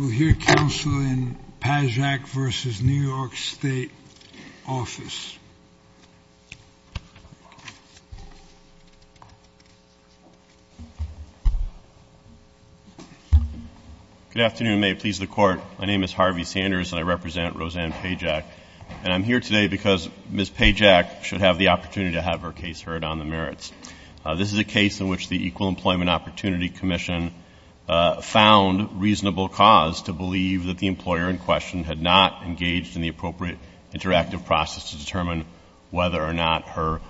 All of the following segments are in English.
Good afternoon. May it please the Court, my name is Harvey Sanders and I represent Roseanne Pajak. And I'm here today because Ms. Pajak should have the opportunity to have her case heard on the merits. This is a case in which the Equal Employment Opportunity Commission found reasonable cause to believe that the employer in question had not engaged in the appropriate interactive process to determine whether or not her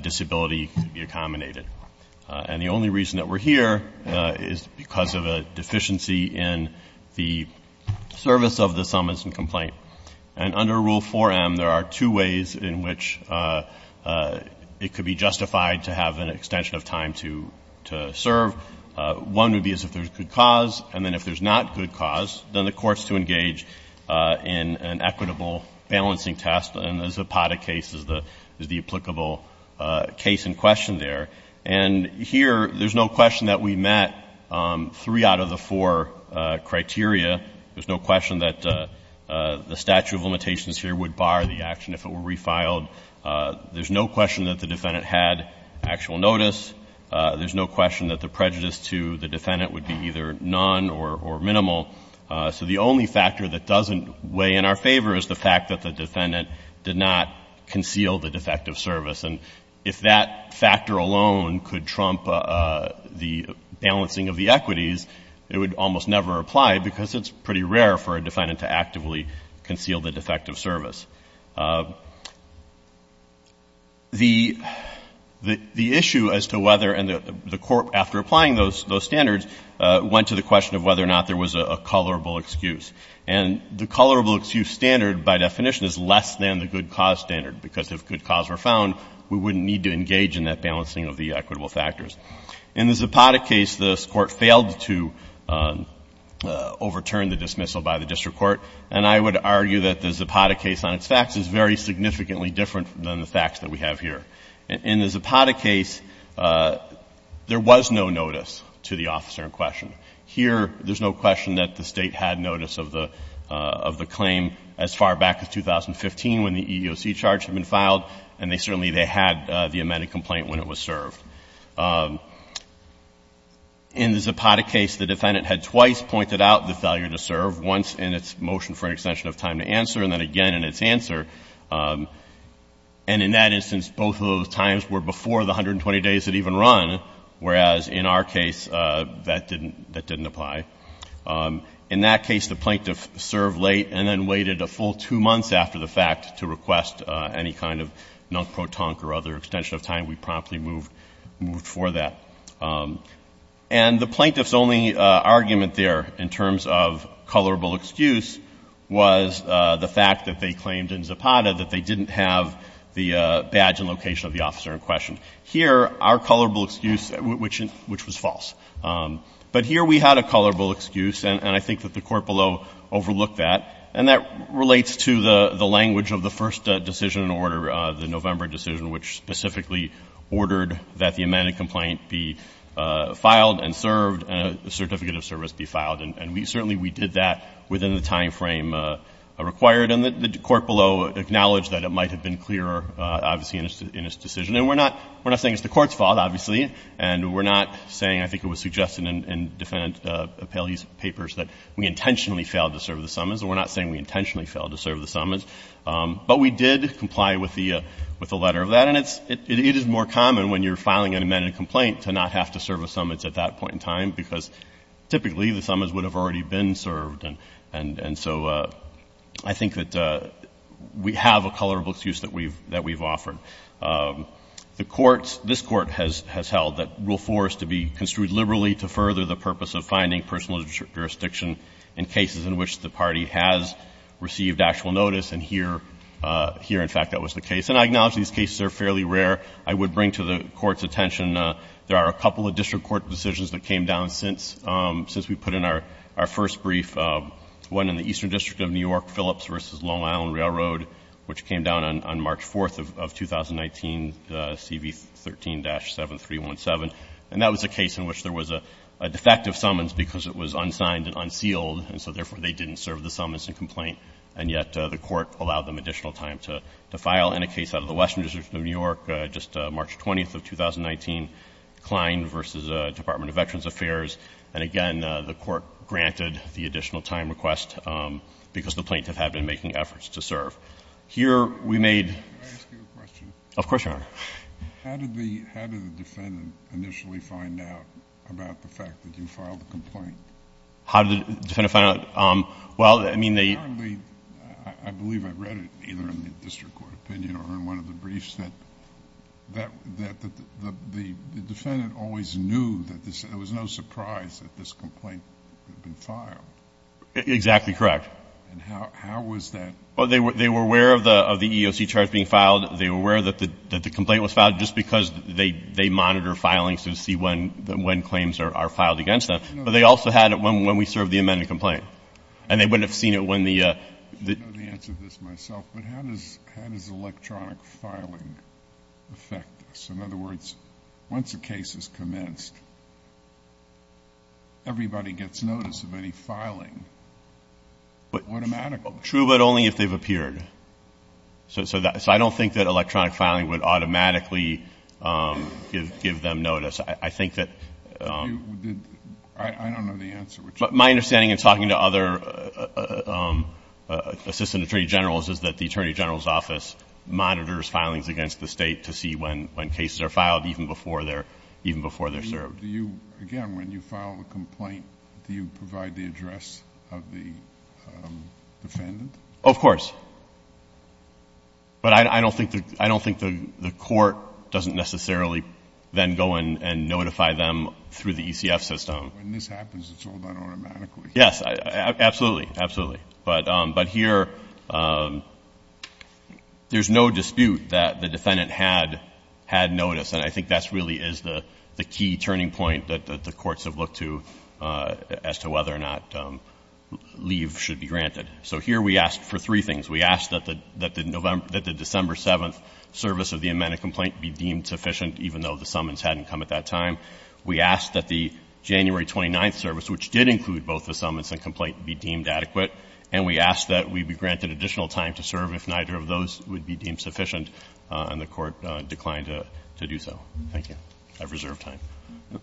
disability could be accommodated. And the only reason that we're here is because of a deficiency in the service of the summons And under Rule 4M, there are two ways in which it could be justified to have an extension of time to serve. One would be as if there's good cause, and then if there's not good cause, then the Court's to engage in an equitable balancing test, and the Zapata case is the applicable case in question there. And here, there's no question that we met three out of the four criteria. There's no question that there's no question the statute of limitations here would bar the action if it were refiled. There's no question that the defendant had actual notice. There's no question that the prejudice to the defendant would be either none or minimal. So the only factor that doesn't weigh in our favor is the fact that the defendant did not conceal the defective service. And if that factor alone could trump the balancing of the equities, it would almost never apply because it's pretty rare for a defendant to actively conceal the defective service. The issue as to whether, and the Court, after applying those standards, went to the question of whether or not there was a colorable excuse. And the colorable excuse standard, by definition, is less than the good cause standard, because if good cause were found, we wouldn't need to engage in that balancing of the equitable factors. In the Zapata case, this Court failed to overturn the dismissal by the district court. And I would argue that the Zapata case on its facts is very significantly different than the facts that we have here. In the Zapata case, there was no notice to the officer in question. Here, there's no question that the State had notice of the claim as far back as 2015 when the EEOC charge had been filed, and certainly they had the amended complaint when it was served. In the Zapata case, the defendant had twice pointed out the failure to serve, once in its motion for an extension of time to answer, and then again in its answer. And in that instance, both of those times were before the 120 days had even run, whereas in our case, that didn't apply. In that case, the plaintiff served late and then waited a full two months after the fact to request any kind of non-protonque or other extension of time. We promptly moved for that. And the plaintiff's only argument there in terms of colorable excuse was the fact that they claimed in Zapata that they didn't have the badge and location of the officer in question. Here, our colorable excuse, which was false. But here, we had a colorable excuse, and I think that the court below overlooked that. And that relates to the language of the first decision in order, the November decision, which specifically ordered that the amended complaint be filed and served and a certificate of service be filed. And certainly we did that within the timeframe required. And the court below acknowledged that it might have been clearer, obviously, in its decision. And we're not saying it's the court's fault, obviously, and we're not saying, I think it was suggested in defendant Appellee's papers, that we intentionally failed to serve the summons. And we're not saying we intentionally failed to serve the summons. But we did comply with the letter of that. And it is more common when you're filing an amended complaint to not have to serve a summons at that point in time, because typically the summons would have already been served. And so I think that we have a colorable excuse that we've offered. The courts, this Court has held that Rule 4 is to be construed liberally to further the purpose of finding personal jurisdiction in cases in which the party has received actual notice. And here, in fact, that was the case. And I acknowledge these cases are fairly rare. I would bring to the Court's attention, there are a couple of district court decisions that came down since we put in our first brief, one in the Eastern District of New York, Phillips v. Long Island Railroad, which came down on March 4th of 2019, CV 13-7317. And that was a case in which there was a defective summons because it was unsigned and unsealed, and so therefore they didn't serve the summons and complaint, and yet the Court allowed them additional time to file. In a case out of the Western District of New York, just March 20th of 2019, Klein v. Department of Veterans Affairs, and again, the Court granted the additional time request because the plaintiff had been making efforts to serve. Here, we made — Can I ask you a question? Of course, Your Honor. How did the defendant initially find out about the fact that you filed the complaint? How did the defendant find out? Well, I mean, they — Apparently, I believe I read it, either in the district court opinion or in one of the the EEOC charge being filed, they were aware that the complaint was filed just because they monitor filings to see when claims are filed against them, but they also had it when we served the amended complaint, and they would have seen it when the — I know the answer to this myself, but how does electronic filing affect this? In other words, everybody gets notice of any filing automatically. True, but only if they've appeared. So I don't think that electronic filing would automatically give them notice. I think that — I don't know the answer, which is — My understanding in talking to other assistant attorney generals is that the attorney general's office monitors filings against the state to see when cases are filed, even before they're served. So do you — again, when you file a complaint, do you provide the address of the defendant? Of course. But I don't think the court doesn't necessarily then go and notify them through the ECF system. When this happens, it's all done automatically. Yes, absolutely, absolutely. But here, there's no dispute that the defendant had notice, and I think that really is the key turning point that the courts have looked to as to whether or not leave should be granted. So here, we asked for three things. We asked that the December 7th service of the amended complaint be deemed sufficient, even though the summons hadn't come at that time. We asked that the January 29th service, which did include both the summons and complaint, be deemed adequate. And we asked that we be granted additional time to serve if neither of those would be deemed sufficient, and the court declined to do so. Thank you. I've reserved time,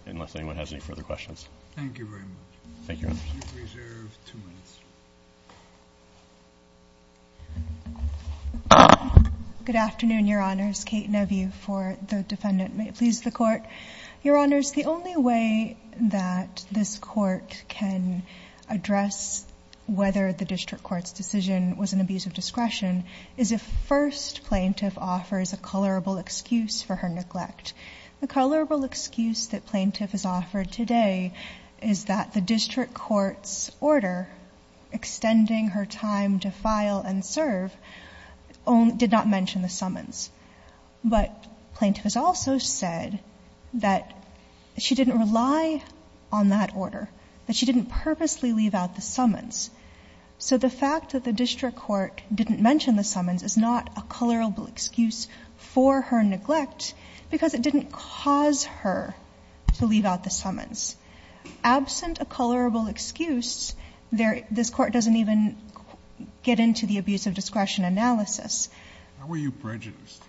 unless anyone has any further questions. Thank you very much. Thank you, Your Honor. You've reserved two minutes. Good afternoon, Your Honors. Kate Nevue for the defendant. May it please the Court? Your Honors, the only way that this Court can address whether the district court's decision was an abuse of discretion is if first plaintiff offers a colorable excuse for her neglect. The colorable excuse that plaintiff has offered today is that the district court's order extending her time to file and serve did not mention the summons. But plaintiff has also said that she didn't rely on that order, that she didn't purposely leave out the summons. So the fact that the district court didn't mention the summons is not a colorable excuse for her neglect because it didn't cause her to leave out the summons. Absent a colorable excuse, this Court doesn't even get into the abuse of discretion analysis. How are you prejudiced?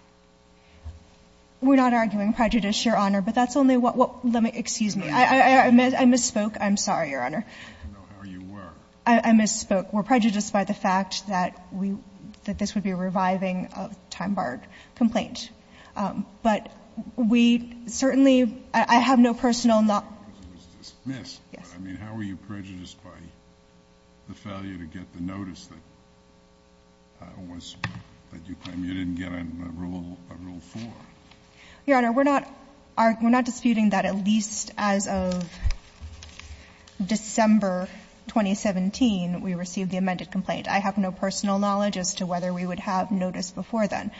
We're not arguing prejudice, Your Honor, but that's only what we're arguing. Excuse me. I misspoke. I'm sorry, Your Honor. I'd like to know how you were. I misspoke. We're prejudiced by the fact that we – that this would be a reviving of a time-barred complaint. But we certainly – I have no personal – It was dismissed. Yes. I mean, how are you prejudiced by the failure to get the notice that was – that you claim you didn't get on Rule 4? Your Honor, we're not – we're not disputing that at least as of December 2017 we received the amended complaint. I have no personal knowledge as to whether we would have notice before then.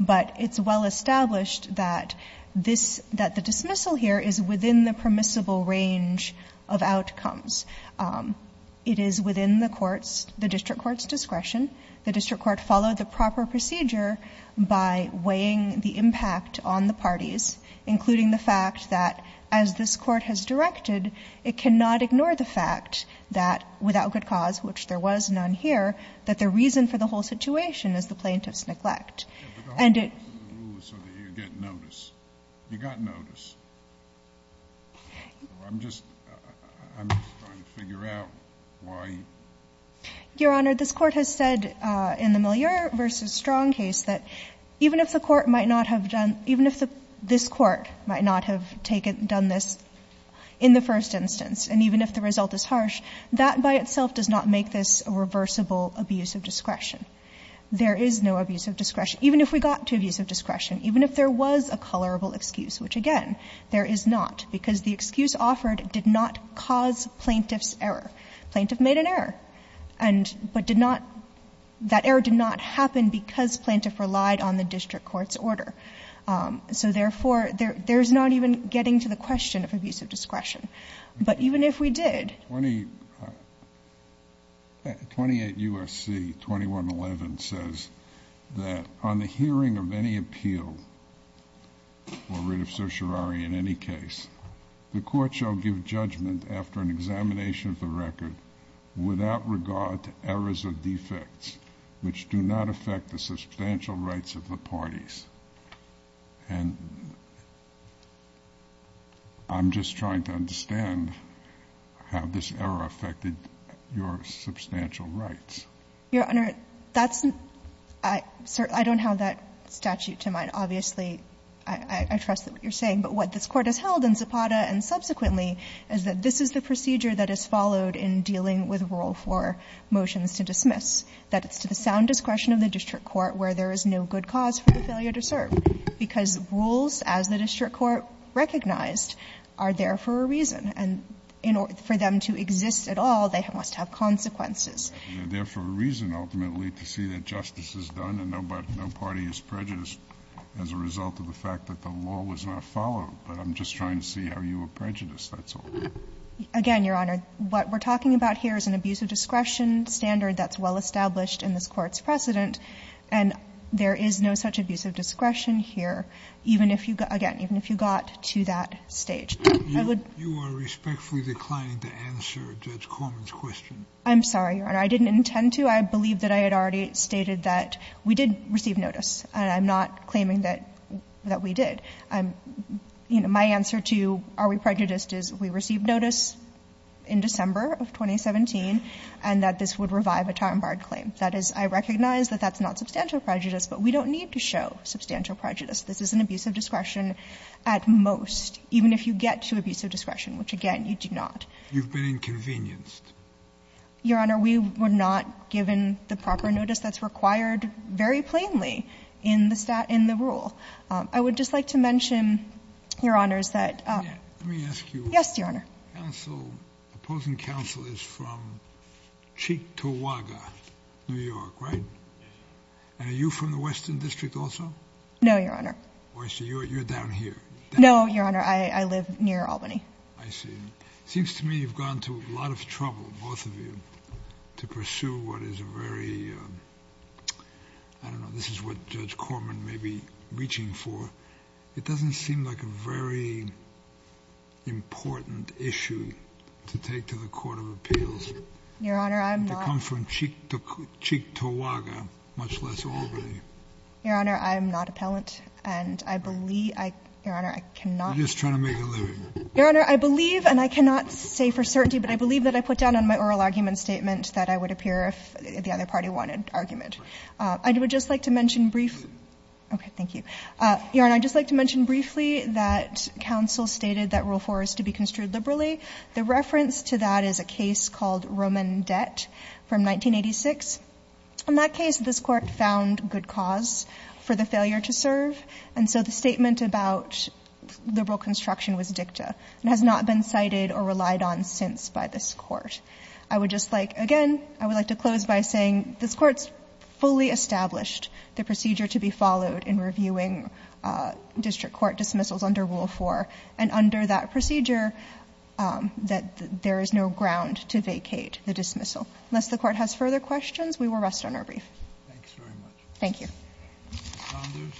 But it's well established that this – that the dismissal here is within the permissible range of outcomes. It is within the court's – the district court's discretion. The district court followed the proper procedure by weighing the impact on the parties, including the fact that as this court has directed, it cannot ignore the fact that without good cause, which there was none here, that the reason for the whole situation is the plaintiff's neglect. And it – But the whole reason for the rule is so that you get notice. You got notice. I'm just – I'm just trying to figure out why – Your Honor, this Court has said in the Moliere v. Strong case that even if the court might not have done – even if the – this Court might not have taken – done this in the first instance, and even if the result is harsh, that by itself does not make this a reversible abuse of discretion. There is no abuse of discretion. Even if we got to abuse of discretion, even if there was a colorable excuse, which, again, there is not, because the excuse offered did not cause plaintiff's error. Plaintiff made an error. And – but did not – that error did not happen because plaintiff relied on the district court's order. So therefore, there's not even getting to the question of abuse of discretion. But even if we did – Twenty – 28 U.S.C. 2111 says that on the hearing of any appeal, or writ of certiorari in any case, the court shall give judgment after an examination of the record without regard to errors or defects which do not affect the substantial rights of the parties. And I'm just trying to understand how this error affected your substantial rights. Your Honor, that's – I don't have that statute to my – obviously, I trust what you're saying. But what this Court has held in Zapata and subsequently is that this is the procedure that is followed in dealing with rule 4 motions to dismiss, that it's to the sound discretion of the district court where there is no good cause for the failure to serve, because rules, as the district court recognized, are there for a reason. And for them to exist at all, they must have consequences. They're there for a reason, ultimately, to see that justice is done and no party is prejudiced as a result of the fact that the law was not followed. But I'm just trying to see how you are prejudiced, that's all. Again, Your Honor, what we're talking about here is an abuse of discretion standard that's well established in this Court's precedent, and there is no such abuse of discretion here, even if you – again, even if you got to that stage. I would – You are respectfully declining to answer Judge Corman's question. I'm sorry, Your Honor. I didn't intend to. I believe that I had already stated that we did receive notice. I'm not claiming that we did. You know, my answer to are we prejudiced is we received notice in December of 2017 and that this would revive a time-barred claim. That is, I recognize that that's not substantial prejudice, but we don't need to show substantial prejudice. This is an abuse of discretion at most, even if you get to abuse of discretion, which, again, you do not. You've been inconvenienced. Your Honor, we were not given the proper notice that's required very plainly in the rule. I would just like to mention, Your Honors, that – Let me ask you – Yes, Your Honor. The opposing counsel is from Cheektowaga, New York, right? Yes. And are you from the Western District also? No, Your Honor. Oh, I see. You're down here. No, Your Honor. I live near Albany. I see. It seems to me you've gone to a lot of trouble, both of you, to pursue what is a very – I don't know. This is what Judge Corman may be reaching for. It doesn't seem like a very important issue to take to the Court of Appeals. Your Honor, I'm not – To come from Cheektowaga, much less Albany. Your Honor, I am not appellant, and I believe – Your Honor, I cannot – You're just trying to make a living. Your Honor, I believe, and I cannot say for certainty, but I believe that I put down on my oral argument statement that I would appear if the other party wanted argument. I would just like to mention briefly – Okay. Thank you. Your Honor, I'd just like to mention briefly that counsel stated that Rule 4 is to be construed liberally. The reference to that is a case called Roman Debt from 1986. In that case, this Court found good cause for the failure to serve, and so the statement about liberal construction was dicta and has not been cited or relied on since by this Court. I would just like – again, I would like to close by saying this Court's fully established the procedure to be followed in reviewing district court dismissals under Rule 4, and under that procedure that there is no ground to vacate the dismissal. Unless the Court has further questions, we will rest on our brief. Thanks very much. Thank you. Mr. Saunders.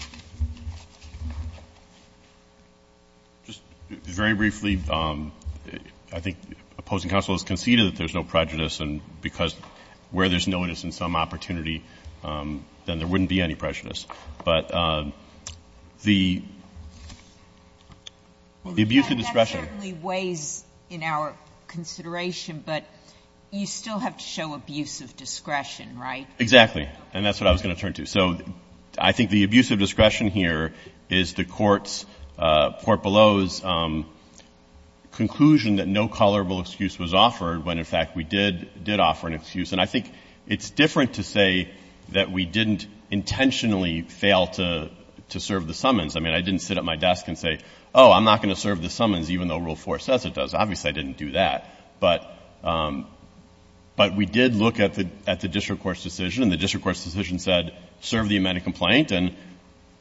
Just very briefly, I think opposing counsel has conceded that there's no prejudice, and because where there's no it is in some opportunity, then there wouldn't be any prejudice. But the abuse of discretion – That certainly weighs in our consideration, but you still have to show abuse of discretion, right? Exactly. And that's what I was going to turn to. So I think the abuse of discretion here is the Court's – Portbello's conclusion that no colorable excuse was offered when, in fact, we did offer an excuse. And I think it's different to say that we didn't intentionally fail to serve the summons. I mean, I didn't sit at my desk and say, oh, I'm not going to serve the summons even though Rule 4 says it does. Obviously, I didn't do that. But we did look at the district court's decision and the district court's decision said serve the amended complaint. And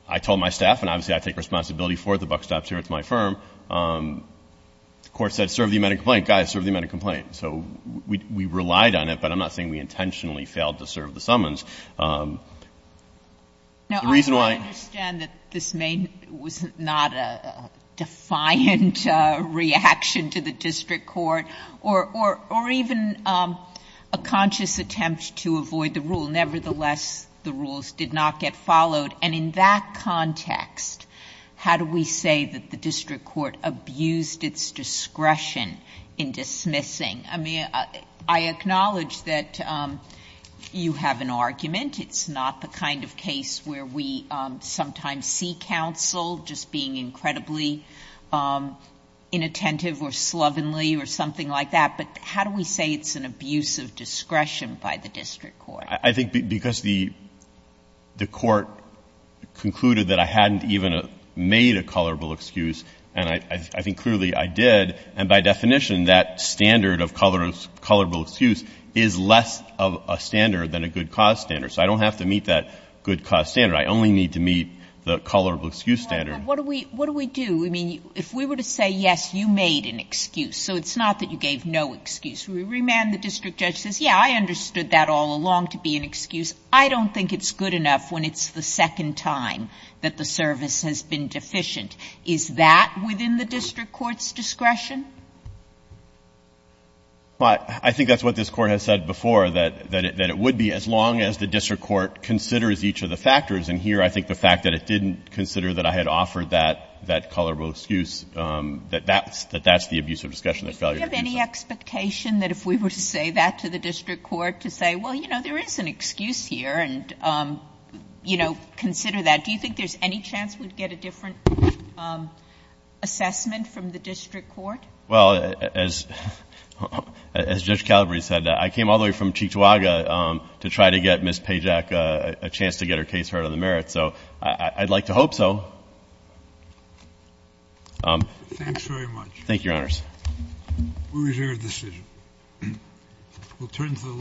I told my staff, and obviously I take responsibility for it. The buck stops here. It's my firm. The Court said serve the amended complaint. Guys, serve the amended complaint. So we relied on it, but I'm not saying we intentionally failed to serve the summons. The reason why – Now, I understand that this was not a defiant reaction to the district court or even a conscious attempt to avoid the rule. Nevertheless, the rules did not get followed. And in that context, how do we say that the district court abused its discretion in dismissing? I mean, I acknowledge that you have an argument. It's not the kind of case where we sometimes see counsel just being incredibly inattentive or slovenly or something like that. But how do we say it's an abuse of discretion by the district court? I think because the court concluded that I hadn't even made a colorable excuse, and I think clearly I did. And by definition, that standard of colorable excuse is less of a standard than a good cause standard. So I don't have to meet that good cause standard. I only need to meet the colorable excuse standard. What do we do? I mean, if we were to say, yes, you made an excuse, so it's not that you gave no excuse. We remand the district judge says, yes, I understood that all along to be an excuse. I don't think it's good enough when it's the second time that the service has been deficient. Is that within the district court's discretion? I think that's what this Court has said before, that it would be as long as the district court considers each of the factors. And here, I think the fact that it didn't consider that I had offered that colorable excuse, that that's the abuse of discretion that failure to do so. Do you have any expectation that if we were to say that to the district court, to say, well, you know, there is an excuse here, and, you know, consider that? Do you think there's any chance we'd get a different assessment from the district court? Well, as Judge Calabreau said, I came all the way from Chicoagua to try to get Ms. Pajak a chance to get her case heard on the merits. So I'd like to hope so. Thanks very much. Thank you, Your Honors. We reserve the decision. We'll turn to the last.